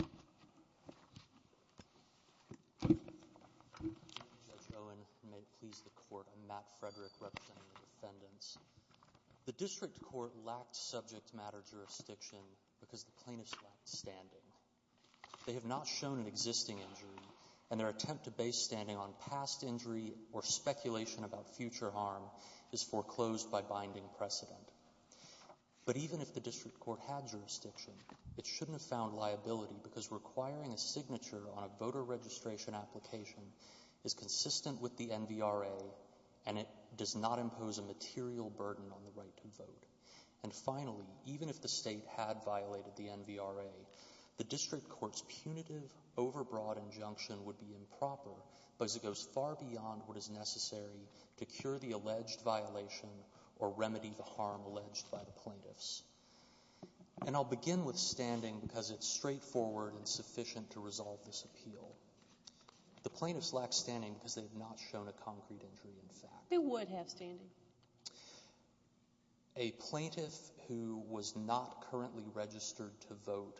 Judge Owen, and may it please the Court, I'm Matt Frederick representing the defendants. The District Court lacked subject matter jurisdiction because the plaintiffs lacked standing. They have not shown an existing injury, and their attempt to base standing on past injury or speculation about future harm is foreclosed by binding precedent. But even if the District Court had jurisdiction, it shouldn't have found liability because requiring a signature on a voter registration application is consistent with the NVRA, and it does not impose a material burden on the right to vote. And finally, even if the state had violated the NVRA, the District Court's punitive overbroad injunction would be improper because it goes far beyond what is necessary to cure the alleged violation or remedy the harm alleged by the plaintiffs. And I'll begin with standing because it's straightforward and sufficient to resolve this appeal. The plaintiffs lack standing because they have not shown a concrete injury in fact. They would have standing. A plaintiff who was not currently registered to vote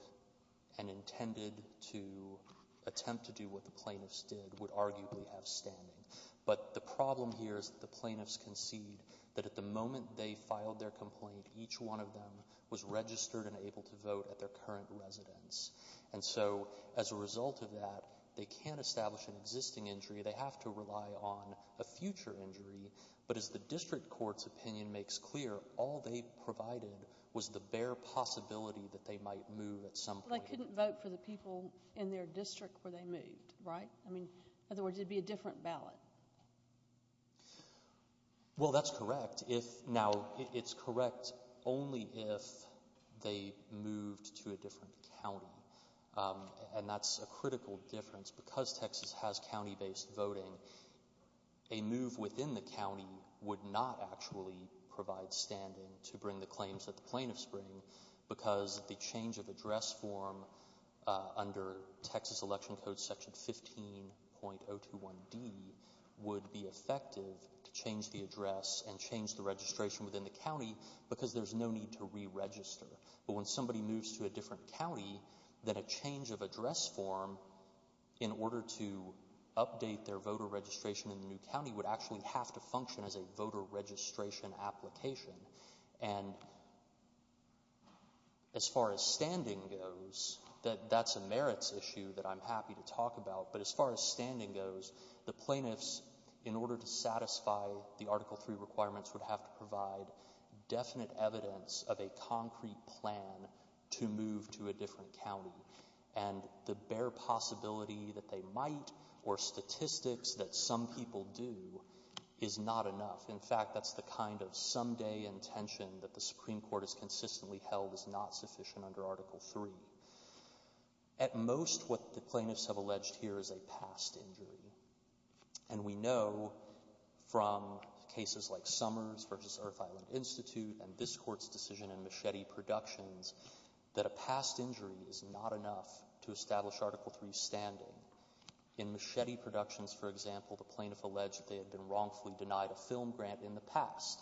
and intended to attempt to do what the plaintiffs did would arguably have standing. But the problem here is that the plaintiffs concede that at the moment they filed their complaint, each one of them was registered and able to vote at their current residence. And so, as a result of that, they can't establish an existing injury. They have to rely on a future injury. But as the District Court's opinion makes clear, all they provided was the bare possibility that they might move at some point. But they couldn't vote for the people in their district where they moved, right? I mean, in other words, it'd be a different ballot. Well, that's correct. Now, it's correct only if they moved to a different county. And that's a critical difference. Because Texas has county-based voting, a move within the county would not actually provide standing to bring the claims that the plaintiffs bring because the change of address form under Texas Election Code Section 15.021D would be effective to change the address and change the registration within the county because there's no need to re-register. But when somebody moves to a different county, then a change of address form in order to update their voter registration in the new county would actually have to function as a voter registration application. And as far as standing goes, that's a merits issue that I'm happy to talk about. But as far as standing goes, the plaintiffs, in order to satisfy the Article III requirements, would have to provide definite evidence of a concrete plan to move to a different county. And the bare possibility that they might or statistics that some people do is not enough. In fact, that's the kind of someday intention that the Supreme Court has consistently held is not sufficient under Article III. At most, what the plaintiffs have alleged here is a past injury. And we know from cases like Summers v. Earth Island Institute and this Court's decision in Machete Productions that a past injury is not enough to establish Article III standing. In Machete Productions, for example, the plaintiff alleged that they had been wrongfully denied a film grant in the past.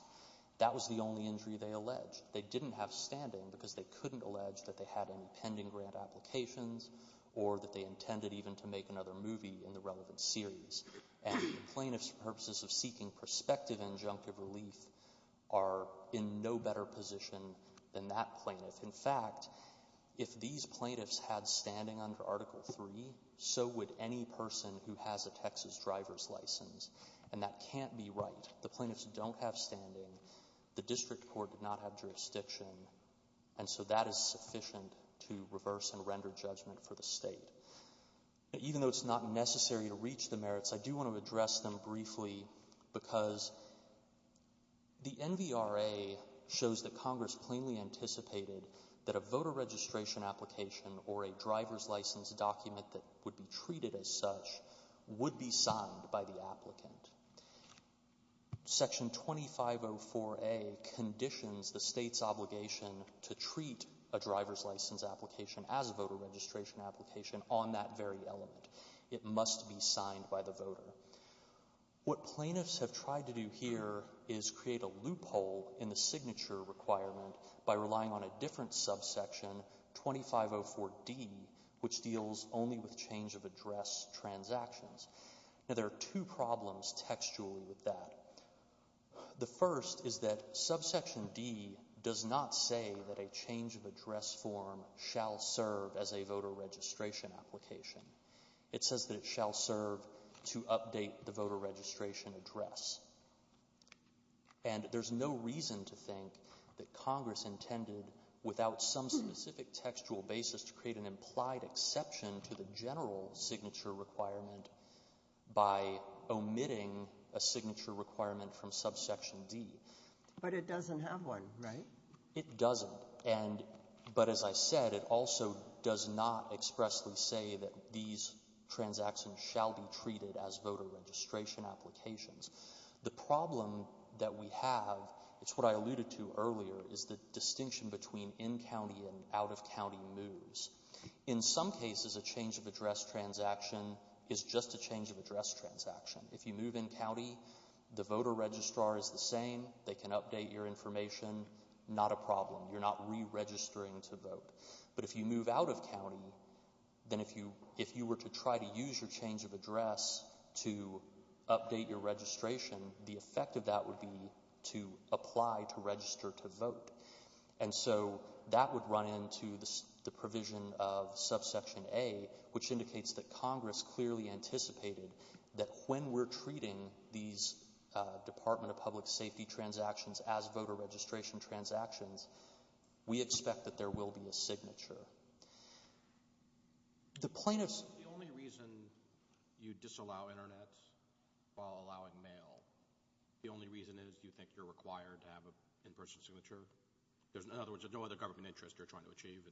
That was the only injury they alleged. They didn't have standing because they couldn't allege that they had any pending grant applications or that they intended even to make another movie in the relevant series. And the plaintiffs' purposes of seeking prospective injunctive relief are in no better position than that plaintiff. In fact, if these plaintiffs had standing under Article III, so would any person who has a Texas driver's license. And that can't be right. The plaintiffs don't have standing. The district court did not have jurisdiction. And so that is sufficient to reverse and render judgment for the State. Even though it's not necessary to reach the merits, I do want to address them briefly because the NVRA shows that Congress plainly anticipated that a voter registration application or a driver's license document that would be treated as such would be signed by the applicant. Section 2504A conditions the State's obligation to treat a driver's license application as a voter registration application on that very element. It must be signed by the voter. What plaintiffs have tried to do here is create a loophole in the signature requirement by relying on a different subsection, 2504D, which deals only with change of address transactions. Now, there are two problems textually with that. The first is that subsection D does not say that a change of address form shall serve as a voter registration application. It says that it shall serve to update the voter registration address. And there's no reason to think that Congress intended without some specific textual basis to create an implied exception to the general signature requirement by omitting a signature requirement from subsection D. But it doesn't have one, right? It doesn't. And, but as I said, it also does not expressly say that these transactions shall be treated as voter registration applications. The problem that we have, it's what I alluded to earlier, is the distinction between in county and out of county moves. In some cases, a change of address transaction is just a change of address transaction. If you move in county, the voter registrar is the same. They can update your information. Not a problem. You're not re-registering to vote. But if you move out of county, then if you were to try to use your change of address to update your registration, the effect of that would be to apply to register to vote. And so that would run into the provision of subsection A, which indicates that Congress clearly anticipated that when we're treating these Department of Public Safety transactions as voter registration transactions, we expect that there will be a signature. The plaintiffs... The only reason you disallow internet while allowing mail, the only reason is you think you're required to have an in-person signature? In other words, there's no other government interest you're trying to achieve?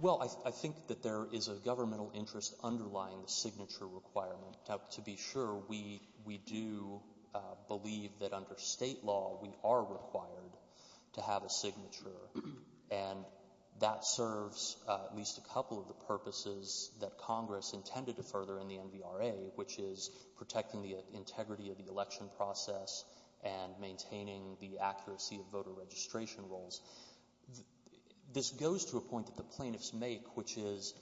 Well, I think that there is a governmental interest underlying the signature requirement. To be sure, we do believe that under state law, we are required to have a signature. And that serves at least a couple of the purposes that Congress intended to further in the NVRA, which is protecting the integrity of the election process and maintaining the accuracy of voter registration rolls. This goes to a point that the plaintiffs make, which is,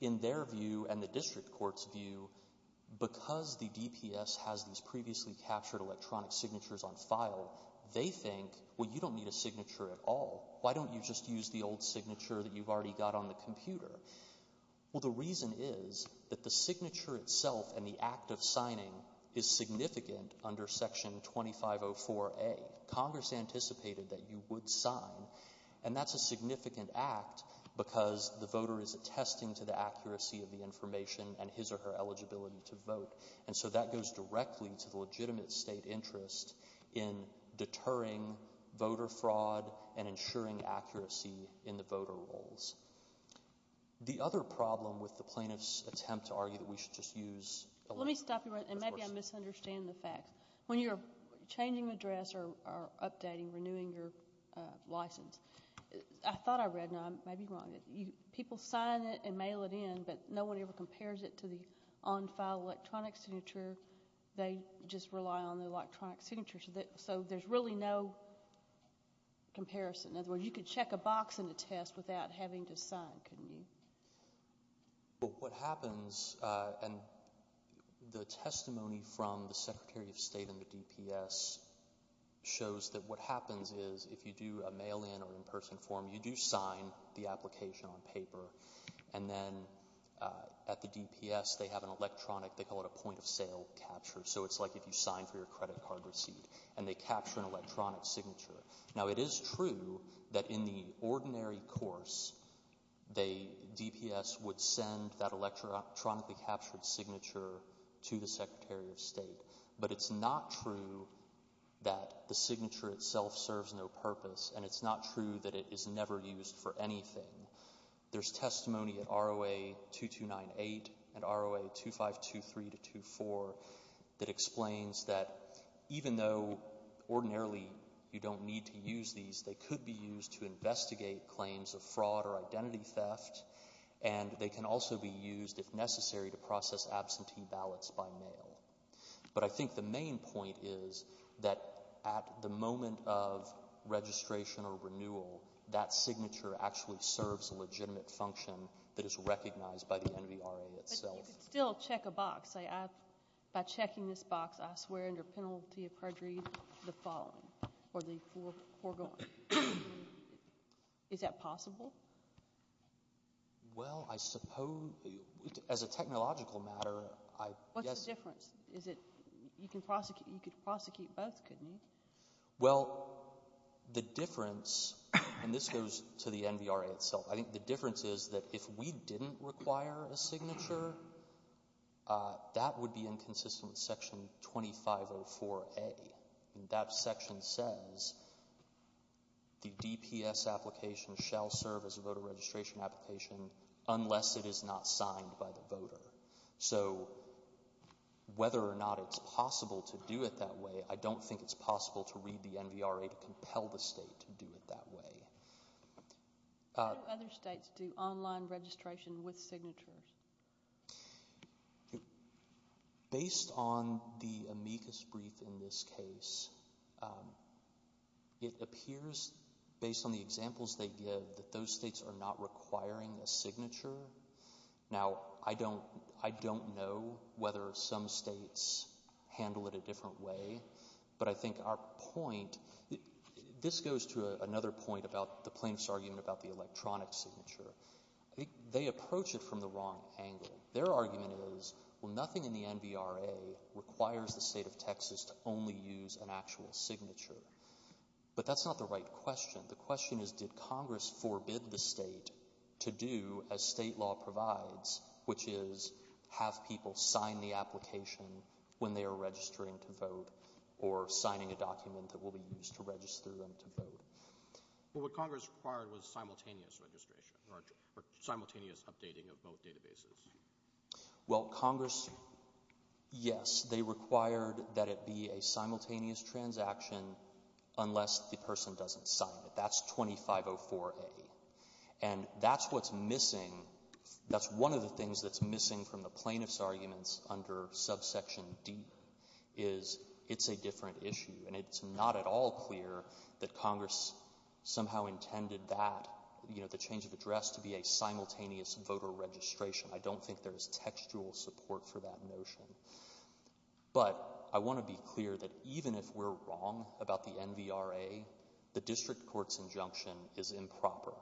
in their view and the district court's view, because the DPS has these previously captured electronic signatures on file, they think, well, you don't need a signature at all. Why don't you just use the old signature that you've already got on the computer? Well, the reason is that the signature itself and the act of signing is significant under section 2504A. Congress anticipated that you would sign, and that's a significant act because the voter is attesting to the accuracy of the information and his or her eligibility to vote. And so that goes directly to the legitimate state interest in deterring voter fraud and ensuring accuracy in the voter rolls. The other problem with the plaintiff's attempt to argue that we should just use electronic signatures is that the DPS is not aware of the fact that there is a signature on the computer. Let me stop you right there. And maybe I misunderstand the facts. When you're changing address or updating, renewing your license, I thought I read, and I may be wrong. People sign it and mail it in, but no one ever compares it to the on-file electronic signature. They just rely on the electronic signature. So there's really no comparison. In other words, you could check a box in a test without having to sign, couldn't you? What happens, and the testimony from the Secretary of State and the DPS shows that what happens is if you do a mail-in or in-person form, you do sign the application on paper. And then at the DPS, they have an electronic, they call it a point-of-sale capture. So it's like if you sign for your credit card receipt. And they capture an electronic signature. Now it is true that in the ordinary course, the DPS would send that electronically captured signature to the Secretary of State. But it's not true that the signature itself serves no purpose, and it's not true that it is never used for anything. There's testimony at ROA 2298 and ROA 2523 to 24 that explains that even though ordinarily you don't need to use these, they could be used to investigate claims of fraud or identity But I think the main point is that at the moment of registration or renewal, that signature actually serves a legitimate function that is recognized by the NVRA itself. But you could still check a box, say, by checking this box, I swear under penalty of perjury the following, or the foregoing. Is that possible? Well, I suppose, as a technological matter, I guess What's the difference? You could prosecute both, couldn't you? Well, the difference, and this goes to the NVRA itself, I think the difference is that if we didn't require a signature, that would be inconsistent with Section 2504A. That section says the DPS application shall serve as a voter registration application unless it is not signed by the voter. So, whether or not it's possible to do it that way, I don't think it's possible to read the NVRA to compel the state to do it that way. How do other states do online registration with signatures? Based on the amicus brief in this case, it appears, based on the examples they give, that those states are not requiring a signature. Now, I don't know whether some states handle it a different way, but I think our point, this goes to another point about the plaintiff's argument about the electronic signature. I think they approach it from the wrong angle. Their argument is, well, nothing in the NVRA requires the state of Texas to only use an actual signature. But that's not the right question. The question is, did Congress forbid the state to do, as state law provides, which is have people sign the application when they are registering to vote or signing a document that will be used to register them to vote? Well, what Congress required was simultaneous registration or simultaneous updating of both databases. Well, Congress, yes, they required that it be a simultaneous transaction unless the person doesn't sign it. That's 2504A. And that's what's missing. That's one of the things that's missing from the plaintiff's arguments under subsection D is it's a different issue, and it's not at all clear that Congress somehow intended that, you know, the change of address to be a simultaneous voter registration. I don't think there is textual support for that notion. But I want to be clear that even if we're wrong about the NVRA, the district court's injunction is improper.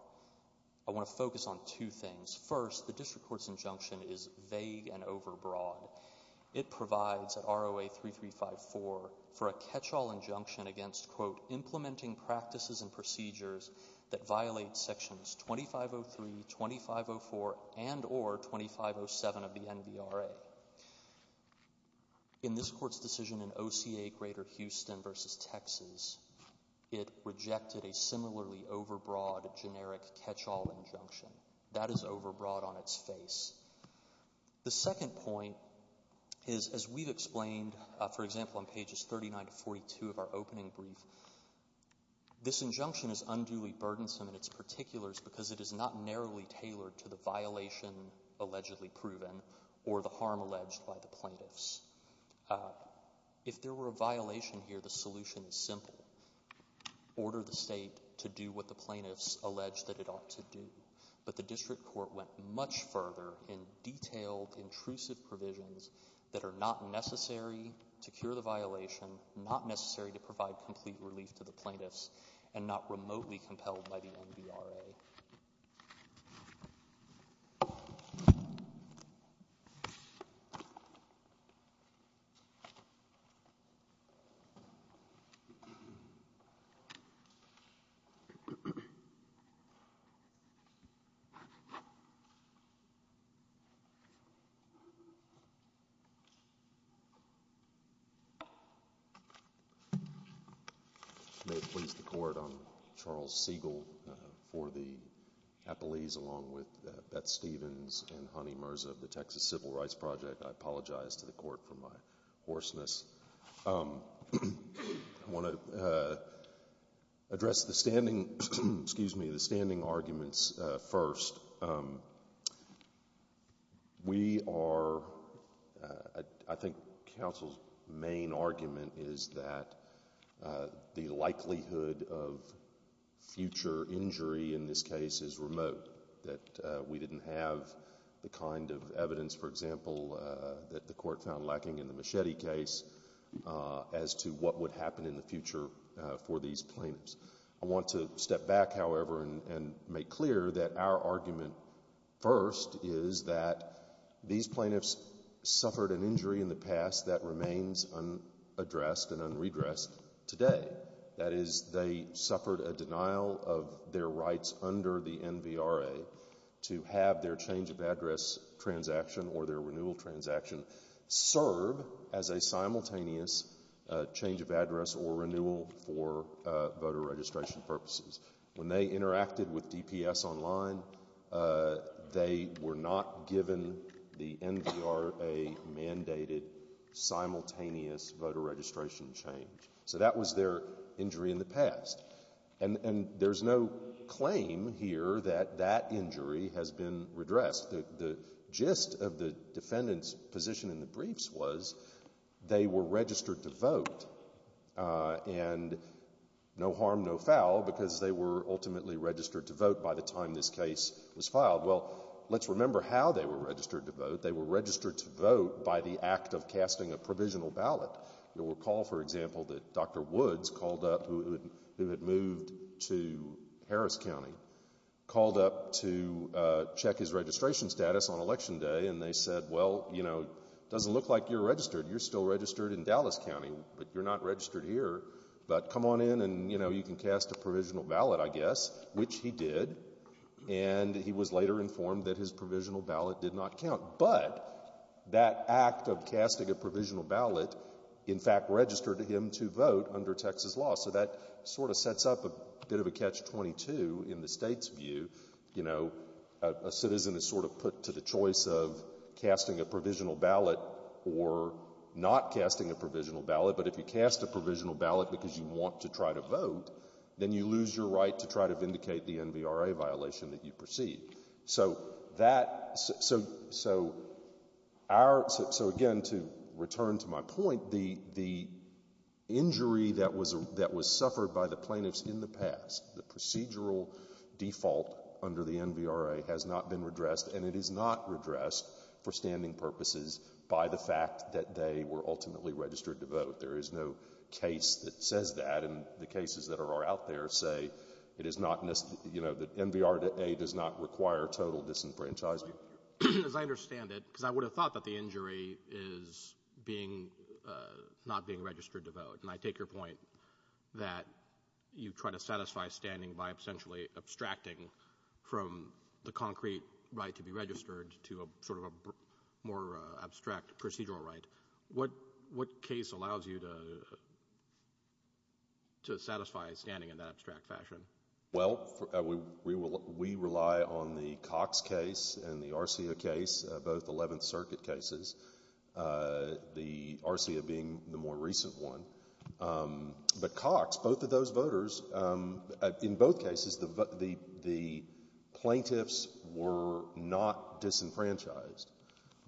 I want to focus on two things. First, the district court's injunction is vague and overbroad. It provides at ROA 3354 for a catchall injunction against, quote, implementing practices and procedures that violate sections 2503, 2504, and or 2507 of the NVRA. In this court's decision in OCA Greater Houston v. Texas, it rejected a similarly overbroad generic catchall injunction. That is overbroad on its face. The second point is, as we've explained, for example, on pages 39 to 42 of our opening brief, this injunction is unduly burdensome in its particulars because it is not narrowly tailored to the violation allegedly proven or the harm alleged by the plaintiffs. If there were a violation here, the solution is simple. Order the state to do what the plaintiffs allege that it ought to do. But the district court went much further in detailed, intrusive provisions that are not necessary to cure the violation, not necessary to provide complete relief to the plaintiffs, and not remotely compelled by the NVRA. Thank you. I apologize to the court for my hoarseness. I want to address the standing arguments first. I think counsel's main argument is that the likelihood of future injury in this case is remote, that we didn't have the kind of evidence, for example, that the court found lacking in the Machete case as to what would happen in the future for these plaintiffs. I want to step back, however, and make clear that our argument first is that these plaintiffs suffered an injury in the past that remains unaddressed and unredressed today. That is, they suffered a denial of their rights under the NVRA to have their change of address transaction or their renewal transaction serve as a simultaneous change of address or renewal for voter registration purposes. When they interacted with DPS online, they were not given the NVRA-mandated simultaneous voter registration change. So that was their injury in the past. And there's no claim here that that injury has been redressed. The gist of the defendant's position in the briefs was they were registered to vote, and no harm, no foul, because they were ultimately registered to vote by the time this case was filed. Well, let's remember how they were registered to vote. They were registered to vote by the act of casting a provisional ballot. You'll recall, for example, that Dr. Woods, who had moved to Harris County, called up to check his registration status on Election Day, and they said, well, it doesn't look like you're registered. You're still registered in Dallas County, but you're not registered here. But come on in, and you can cast a provisional ballot, I guess, which he did. And he was later informed that his provisional ballot did not count. But that act of casting a provisional ballot, in fact, registered him to vote under Texas law. So that sort of sets up a bit of a catch-22 in the state's view. You know, a citizen is sort of put to the choice of casting a provisional ballot or not casting a provisional ballot. But if you cast a provisional ballot because you want to try to vote, then you lose your right to try to vindicate the NVRA violation that you proceed. So again, to return to my point, the injury that was suffered by the plaintiffs in the past, the procedural default under the NVRA has not been redressed, and it is not redressed for standing purposes by the fact that they were ultimately registered to vote. There is no case that says that, and the cases that are out there say it is not necessary. You know, that NVRA does not require total disenfranchisement. As I understand it, because I would have thought that the injury is not being registered to vote, and I take your point that you try to satisfy standing by essentially abstracting from the concrete right to be registered to sort of a more abstract procedural right. What case allows you to satisfy standing in that abstract fashion? Well, we rely on the Cox case and the Arcia case, both Eleventh Circuit cases, the Arcia being the more recent one. But Cox, both of those voters, in both cases, the plaintiffs were not disenfranchised.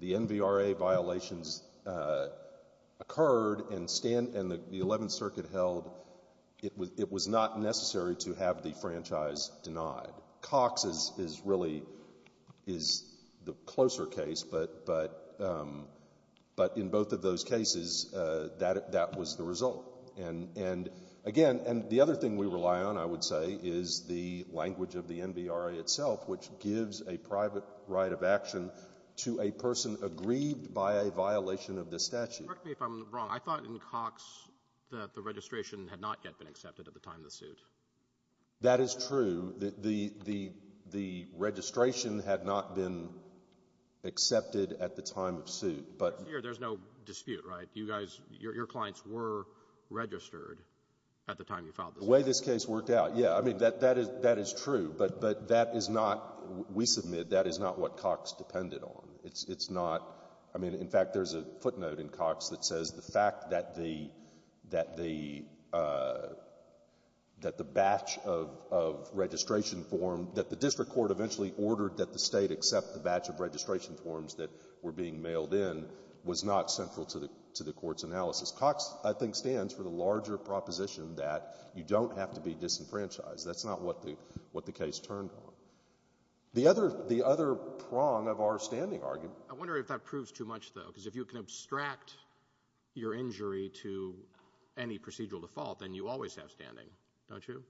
The NVRA violations occurred and the Eleventh Circuit held it was not necessary to have the franchise denied. Cox is really the closer case, but in both of those cases, that was the result. And again, the other thing we rely on, I would say, is the language of the NVRA itself, which gives a private right of action to a person aggrieved by a violation of the statute. Correct me if I'm wrong. I thought in Cox that the registration had not yet been accepted at the time of the suit. That is true. The registration had not been accepted at the time of suit. But here there's no dispute, right? You guys, your clients were registered at the time you filed the suit. The way this case worked out, yeah, I mean, that is true, but that is not, we submit, that is not what Cox depended on. It's not, I mean, in fact, there's a footnote in Cox that says the fact that the batch of registration form that the district court eventually ordered that the state accept the batch of registration forms that were being mailed in was not central to the court's analysis. Cox, I think, stands for the larger proposition that you don't have to be disenfranchised. That's not what the case turned on. The other prong of our standing argument. I wonder if that proves too much, though, because if you can abstract your injury to any procedural default, then you always have standing, don't you?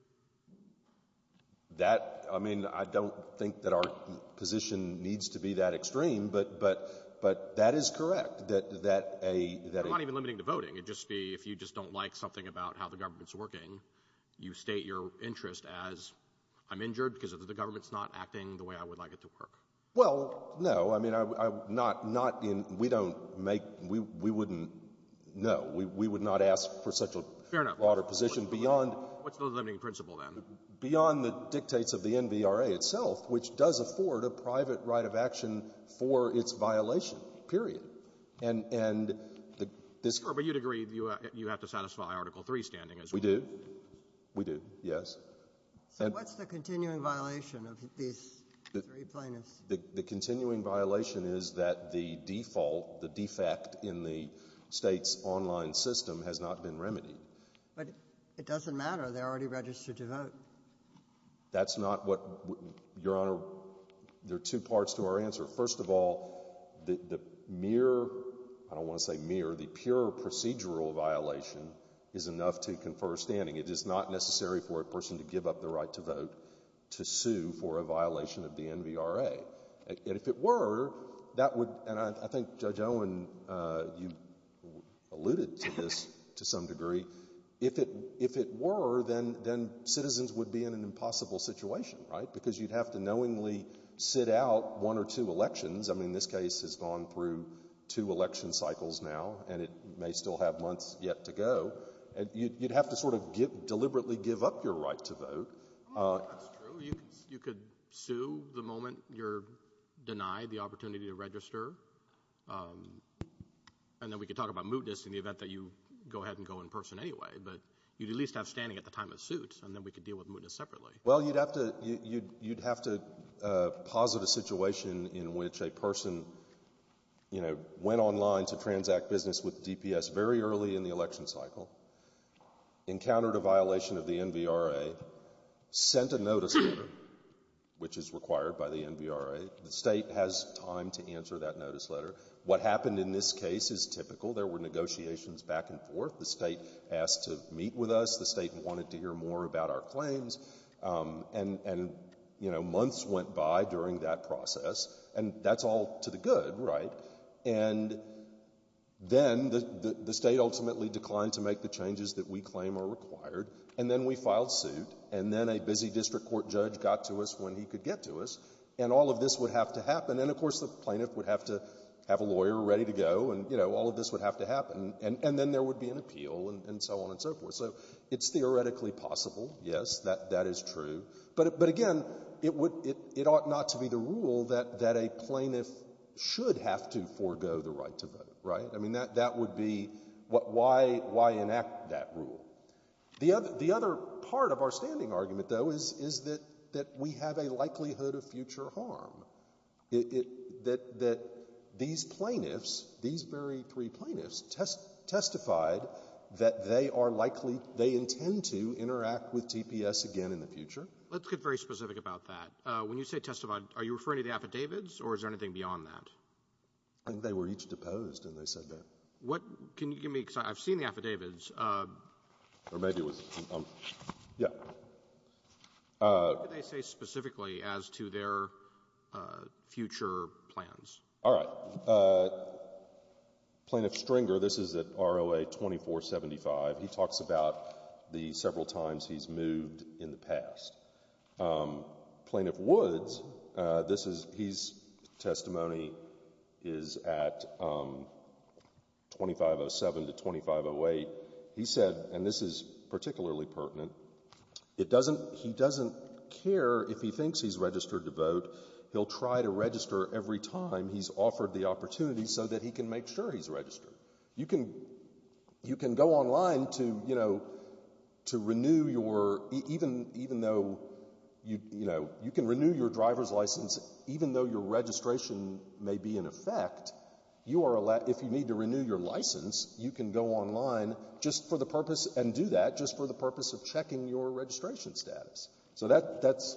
That, I mean, I don't think that our position needs to be that extreme, but that is correct. You're not even limiting to voting. It'd just be if you just don't like something about how the government's working, you state your interest as I'm injured because the government's not acting the way I would like it to work. Well, no. I mean, not in, we don't make, we wouldn't, no. We would not ask for such a broader position beyond. Fair enough. What's the limiting principle, then? Beyond the dictates of the NVRA itself, which does afford a private right of action for its violation, period. And this. Sure, but you'd agree you have to satisfy Article III standing as well. We do. We do, yes. So what's the continuing violation of these three plaintiffs? The continuing violation is that the default, the defect in the state's online system has not been remedied. But it doesn't matter. They're already registered to vote. That's not what, Your Honor, there are two parts to our answer. First of all, the mere, I don't want to say mere, the pure procedural violation is enough to confer standing. It is not necessary for a person to give up the right to vote to sue for a violation of the NVRA. And if it were, that would, and I think Judge Owen, you alluded to this to some degree. If it were, then citizens would be in an impossible situation, right? Because you'd have to knowingly sit out one or two elections. I mean, this case has gone through two election cycles now, and it may still have months yet to go. You'd have to sort of deliberately give up your right to vote. That's true. You could sue the moment you're denied the opportunity to register, and then we could talk about mootness in the event that you go ahead and go in person anyway. But you'd at least have standing at the time of suit, and then we could deal with mootness separately. Well, you'd have to posit a situation in which a person, you know, went online to transact business with DPS very early in the election cycle, encountered a violation of the NVRA, sent a notice letter, which is required by the NVRA. The state has time to answer that notice letter. What happened in this case is typical. There were negotiations back and forth. The state asked to meet with us. The state wanted to hear more about our claims. And, you know, months went by during that process, and that's all to the good, right? And then the state ultimately declined to make the changes that we claim are required, and then we filed suit, and then a busy district court judge got to us when he could get to us, and all of this would have to happen. And, of course, the plaintiff would have to have a lawyer ready to go, and, you know, all of this would have to happen, and then there would be an appeal and so on and so forth. So it's theoretically possible, yes, that that is true. But, again, it ought not to be the rule that a plaintiff should have to forego the right to vote, right? I mean, that would be why enact that rule. The other part of our standing argument, though, is that we have a likelihood of future harm, that these plaintiffs, these very three plaintiffs, testified that they are likely they intend to interact with TPS again in the future. Let's get very specific about that. When you say testified, are you referring to the affidavits, or is there anything beyond that? I think they were each deposed, and they said that. What can you give me? Because I've seen the affidavits. Or maybe it was. Yeah. What did they say specifically as to their future plans? All right. Plaintiff Stringer, this is at ROA 2475. He talks about the several times he's moved in the past. Plaintiff Woods, this is, his testimony is at 2507 to 2508. He said, and this is particularly pertinent, it doesn't, he doesn't care if he thinks he's registered to vote. He'll try to register every time he's offered the opportunity so that he can make sure he's registered. You can go online to, you know, to renew your, even though, you know, you can renew your driver's license even though your registration may be in effect. You are allowed, if you need to renew your license, you can go online just for the purpose, and do that just for the purpose of checking your registration status. So that's.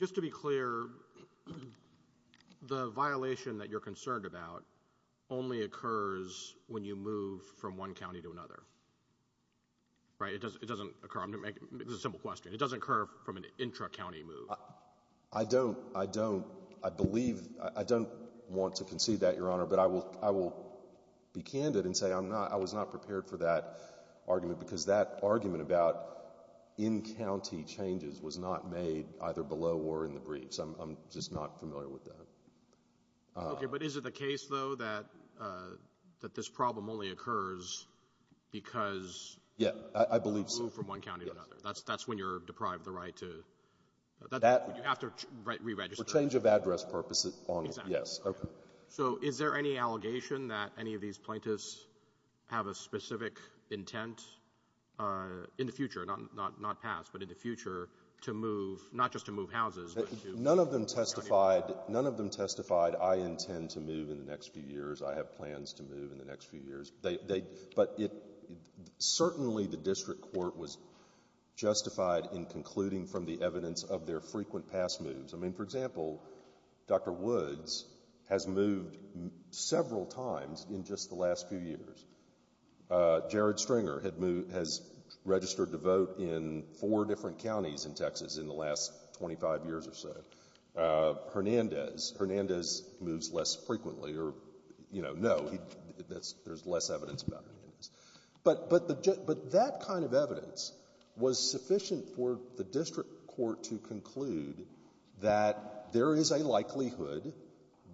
Just to be clear, the violation that you're concerned about only occurs when you move from one county to another. Right? It doesn't occur. It's a simple question. It doesn't occur from an intra-county move. I don't, I don't, I believe, I don't want to concede that, Your Honor, but I will be candid and say I'm not, I was not prepared for that argument because that argument about in-county changes was not made either below or in the briefs. I'm just not familiar with that. Okay, but is it the case, though, that this problem only occurs because you move from one county to another? That's when you're deprived of the right to, you have to re-register. For change of address purposes, yes. Exactly. So is there any allegation that any of these plaintiffs have a specific intent in the future, not past, but in the future, to move, not just to move houses. None of them testified, none of them testified I intend to move in the next few years, I have plans to move in the next few years. But certainly the district court was justified in concluding from the evidence of their frequent past moves. I mean, for example, Dr. Woods has moved several times in just the last few years. Jared Stringer has registered to vote in four different counties in Texas in the last 25 years or so. Hernandez. Hernandez moves less frequently or, you know, no, there's less evidence about Hernandez. But that kind of evidence was sufficient for the district court to conclude that there is a likelihood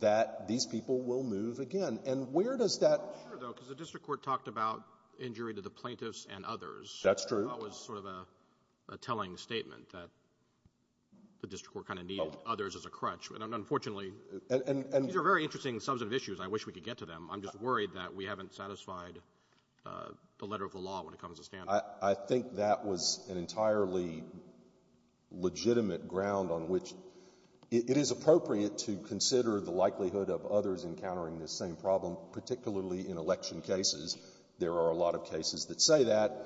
that these people will move again. And where does that come from? Sure, though, because the district court talked about injury to the plaintiffs and others. That's true. I thought it was sort of a telling statement that the district court kind of needed others as a crutch. And unfortunately, these are very interesting substantive issues. I wish we could get to them. I'm just worried that we haven't satisfied the letter of the law when it comes to standards. I think that was an entirely legitimate ground on which it is appropriate to consider the likelihood of others encountering this same problem, particularly in election cases. There are a lot of cases that say that.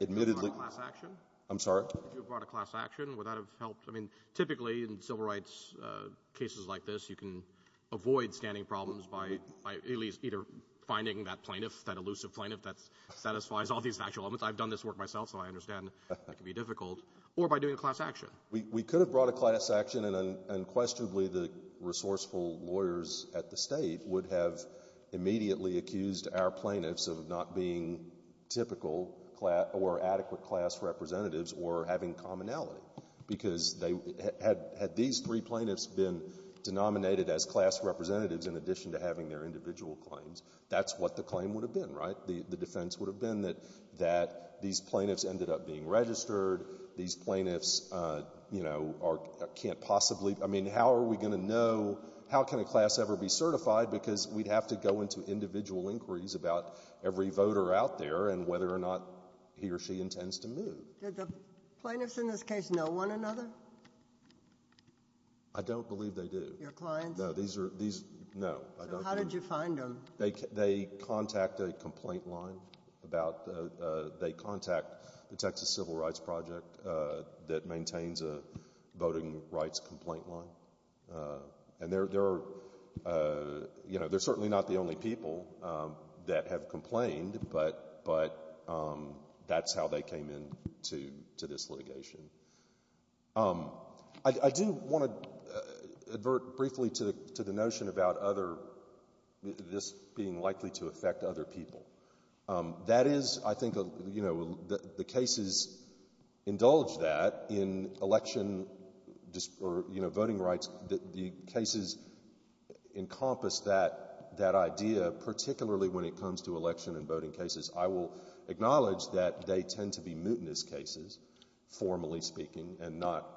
Admittedly— You brought a class action? I'm sorry? You brought a class action. Would that have helped? I mean, typically in civil rights cases like this, you can avoid standing problems by at least either finding that plaintiff, that elusive plaintiff that satisfies all these factual elements. I've done this work myself, so I understand it can be difficult, or by doing a class action. We could have brought a class action, and unquestionably the resourceful lawyers at the State would have immediately accused our plaintiffs of not being typical or adequate class representatives or having commonality. Because had these three plaintiffs been denominated as class representatives in addition to having their individual claims, that's what the claim would have been, right? The defense would have been that these plaintiffs ended up being registered. These plaintiffs, you know, can't possibly — I mean, how are we going to know — how can a class ever be certified? Because we'd have to go into individual inquiries about every voter out there and whether or not he or she intends to move. Did the plaintiffs in this case know one another? I don't believe they do. Your clients? No. These are — these — no. So how did you find them? They contact a complaint line about — they contact the Texas Civil Rights Project that maintains a voting rights complaint line. And there are — you know, they're certainly not the only people that have complained, but that's how they came into this litigation. I do want to advert briefly to the notion about other — this being likely to affect other people. That is, I think, you know, the cases indulge that in election or, you know, voting rights. The cases encompass that idea, particularly when it comes to election and voting cases. I will acknowledge that they tend to be mutinous cases, formally speaking, and not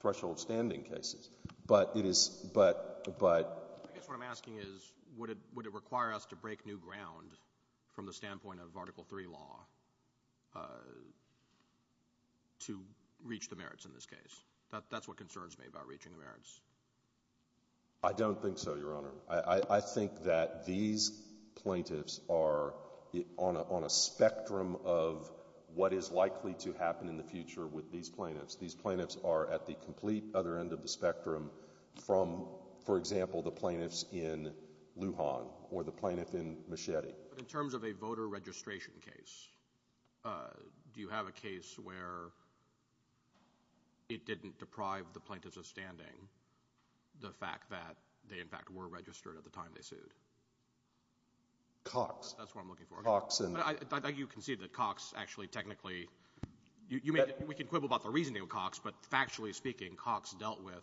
threshold-standing cases. But it is — but — but — I guess what I'm asking is would it require us to break new ground from the standpoint of Article III law to reach the merits in this case? That's what concerns me about reaching the merits. I don't think so, Your Honor. I think that these plaintiffs are on a spectrum of what is likely to happen in the future with these plaintiffs. These plaintiffs are at the complete other end of the spectrum from, for example, the plaintiffs in Lujan or the plaintiff in Machete. But in terms of a voter registration case, do you have a case where it didn't deprive the plaintiffs of standing the fact that they, in fact, were registered at the time they sued? Cox. That's what I'm looking for. Cox and — You can see that Cox actually technically — we can quibble about the reasoning of Cox, but factually speaking, Cox dealt with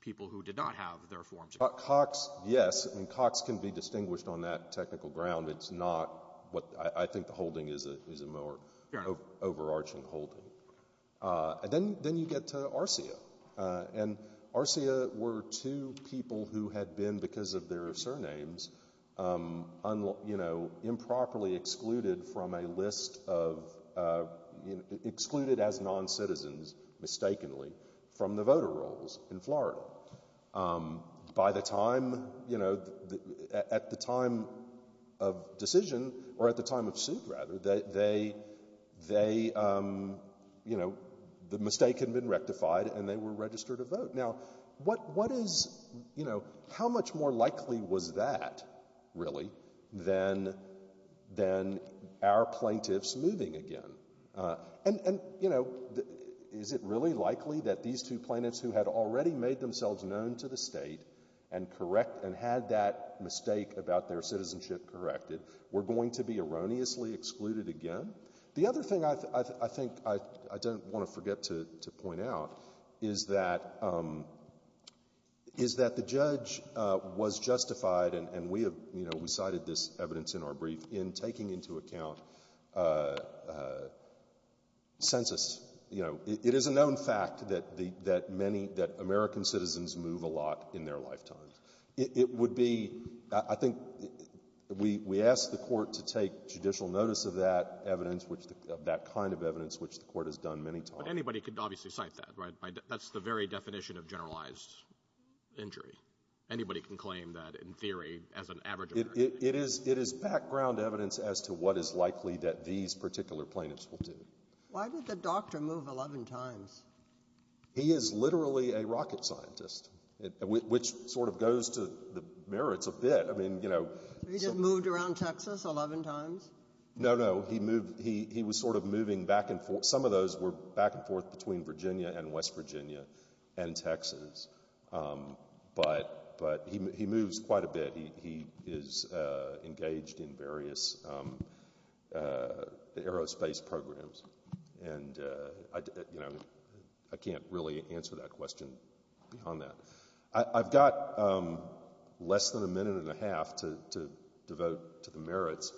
people who did not have their forms. Cox, yes. I mean, Cox can be distinguished on that technical ground. It's not what — I think the holding is a more overarching holding. And then you get to Arcia. And Arcia were two people who had been, because of their surnames, you know, improperly excluded from a list of — excluded as noncitizens, mistakenly, from the voter rolls in Florida. By the time, you know, at the time of decision, or at the time of suit, rather, they — they, you know, the mistake had been rectified and they were registered to vote. Now, what is — you know, how much more likely was that, really, than our plaintiffs moving again? And, you know, is it really likely that these two plaintiffs who had already made themselves known to the State and correct — and had that mistake about their citizenship corrected were going to be erroneously excluded again? The other thing I think I don't want to forget to point out is that — is that the judge was justified, and we have — you know, we cited this evidence in our brief, in taking into account census. You know, it is a known fact that many — that American citizens move a lot in their lifetimes. It would be — I think we asked the Court to take judicial notice of that evidence, which — of that kind of evidence, which the Court has done many times. But anybody could obviously cite that, right? That's the very definition of generalized injury. Anybody can claim that, in theory, as an average of — It is — it is background evidence as to what is likely that these particular plaintiffs will do. Why did the doctor move 11 times? He is literally a rocket scientist, which sort of goes to the merits of it. I mean, you know — He just moved around Texas 11 times? No, no. He moved — he was sort of moving back and forth. Some of those were back and forth between Virginia and West Virginia and Texas. But he moves quite a bit. He is engaged in various aerospace programs. And, you know, I can't really answer that question beyond that. I've got less than a minute and a half to devote to the merits.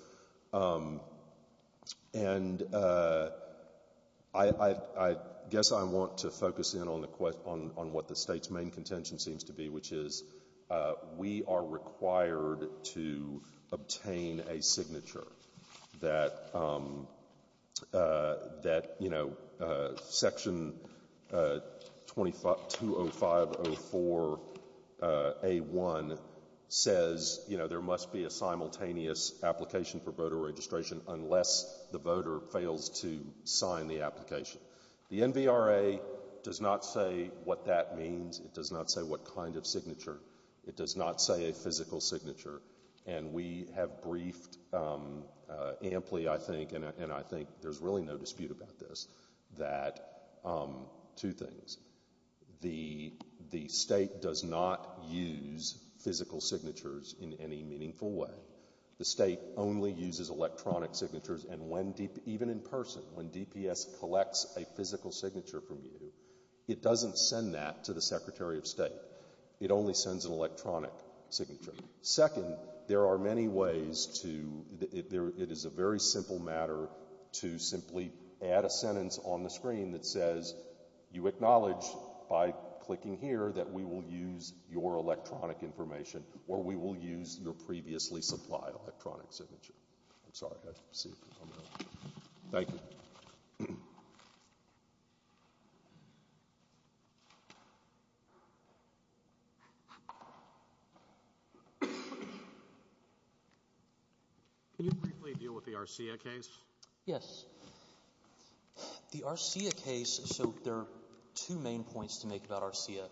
And I guess I want to focus in on what the State's main contention seems to be, which is we are required to obtain a signature that, you know, Section 205-04-A1 says, you know, there must be a simultaneous application for voter registration unless the voter fails to sign the application. The NVRA does not say what that means. It does not say what kind of signature. It does not say a physical signature. And we have briefed amply, I think, and I think there's really no dispute about this, that — two things. The State does not use physical signatures in any meaningful way. The State only uses electronic signatures. And even in person, when DPS collects a physical signature from you, it doesn't send that to the Secretary of State. It only sends an electronic signature. Second, there are many ways to — that says you acknowledge by clicking here that we will use your electronic information or we will use your previously supplied electronic signature. I'm sorry. Thank you. Can you briefly deal with the RCIA case? Yes. The RCIA case — so there are two main points to make about RCIA.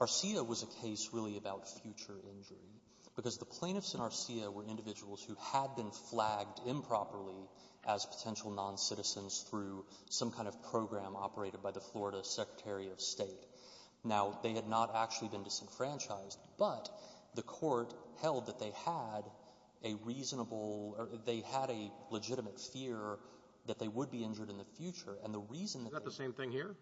RCIA was a case really about future injury because the plaintiffs in RCIA were individuals who had been flagged improperly as potential noncitizens through some kind of program operated by the Florida Secretary of State. Now, they had not actually been disenfranchised, but the court held that they had a reasonable — or they had a legitimate fear that they would be injured in the future. And the reason — Is that the same thing here?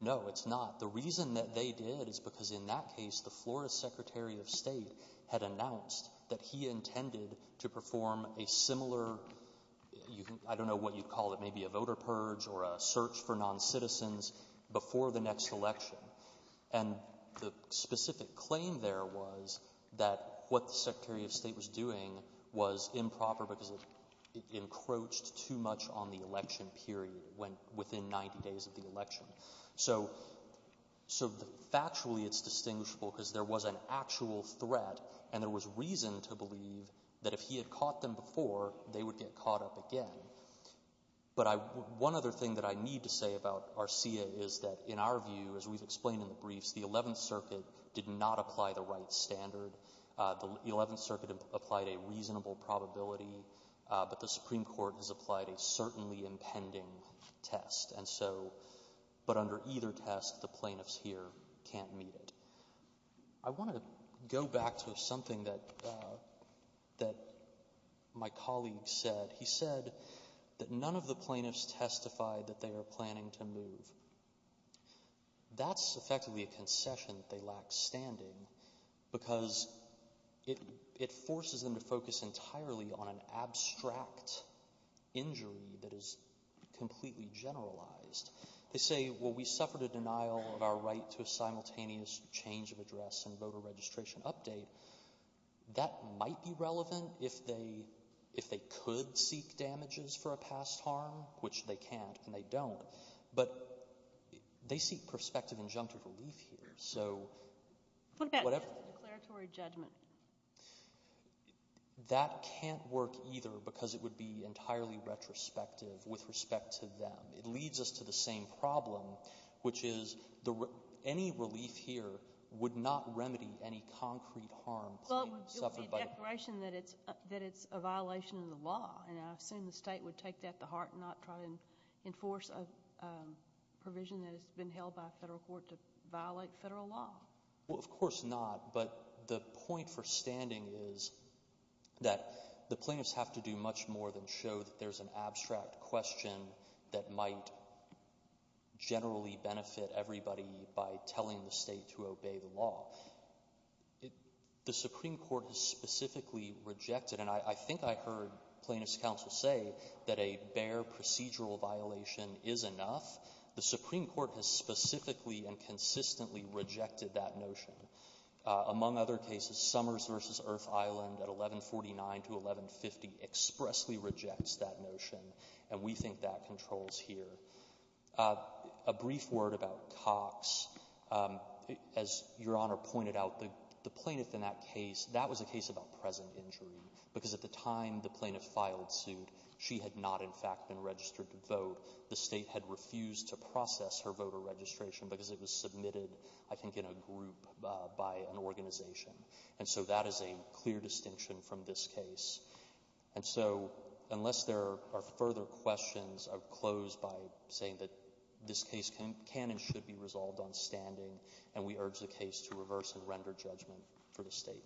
No, it's not. The reason that they did is because in that case, the Florida Secretary of State had announced that he intended to perform a similar — I don't know what you'd call it, maybe a voter purge or a search for noncitizens before the next election. And the specific claim there was that what the Secretary of State was doing was improper because it encroached too much on the election period within 90 days of the election. So factually it's distinguishable because there was an actual threat and there was reason to believe that if he had caught them before, they would get caught up again. But one other thing that I need to say about RCA is that in our view, as we've explained in the briefs, the Eleventh Circuit did not apply the right standard. The Eleventh Circuit applied a reasonable probability, but the Supreme Court has applied a certainly impending test. And so — but under either test, the plaintiffs here can't meet it. I want to go back to something that my colleague said. He said that none of the plaintiffs testified that they are planning to move. That's effectively a concession that they lack standing because it forces them to focus entirely on an abstract injury that is completely generalized. They say, well, we suffered a denial of our right to a simultaneous change of address and voter registration update. That might be relevant if they could seek damages for a past harm, which they can't and they don't. But they seek prospective injunctive relief here. So whatever — What about just a declaratory judgment? That can't work either because it would be entirely retrospective with respect to them. It leads us to the same problem, which is any relief here would not remedy any concrete harm. Well, it would be a declaration that it's a violation of the law, and I assume the state would take that to heart and not try to enforce a provision that has been held by a federal court to violate federal law. Well, of course not. But the point for standing is that the plaintiffs have to do much more than show that there's an abstract question that might generally benefit everybody by telling the state to obey the law. The Supreme Court has specifically rejected — and I think I heard plaintiffs' counsel say that a bare procedural violation is enough. The Supreme Court has specifically and consistently rejected that notion. Among other cases, Summers v. Earth Island at 1149 to 1150 expressly rejects that notion, and we think that controls here. A brief word about Cox. As Your Honor pointed out, the plaintiff in that case, that was a case about present injury because at the time the plaintiff filed suit, she had not in fact been registered to vote. The state had refused to process her voter registration because it was submitted, I think, in a group by an organization. And so that is a clear distinction from this case. And so unless there are further questions, I'll close by saying that this case can and should be resolved on standing, and we urge the case to reverse and render judgment for the state.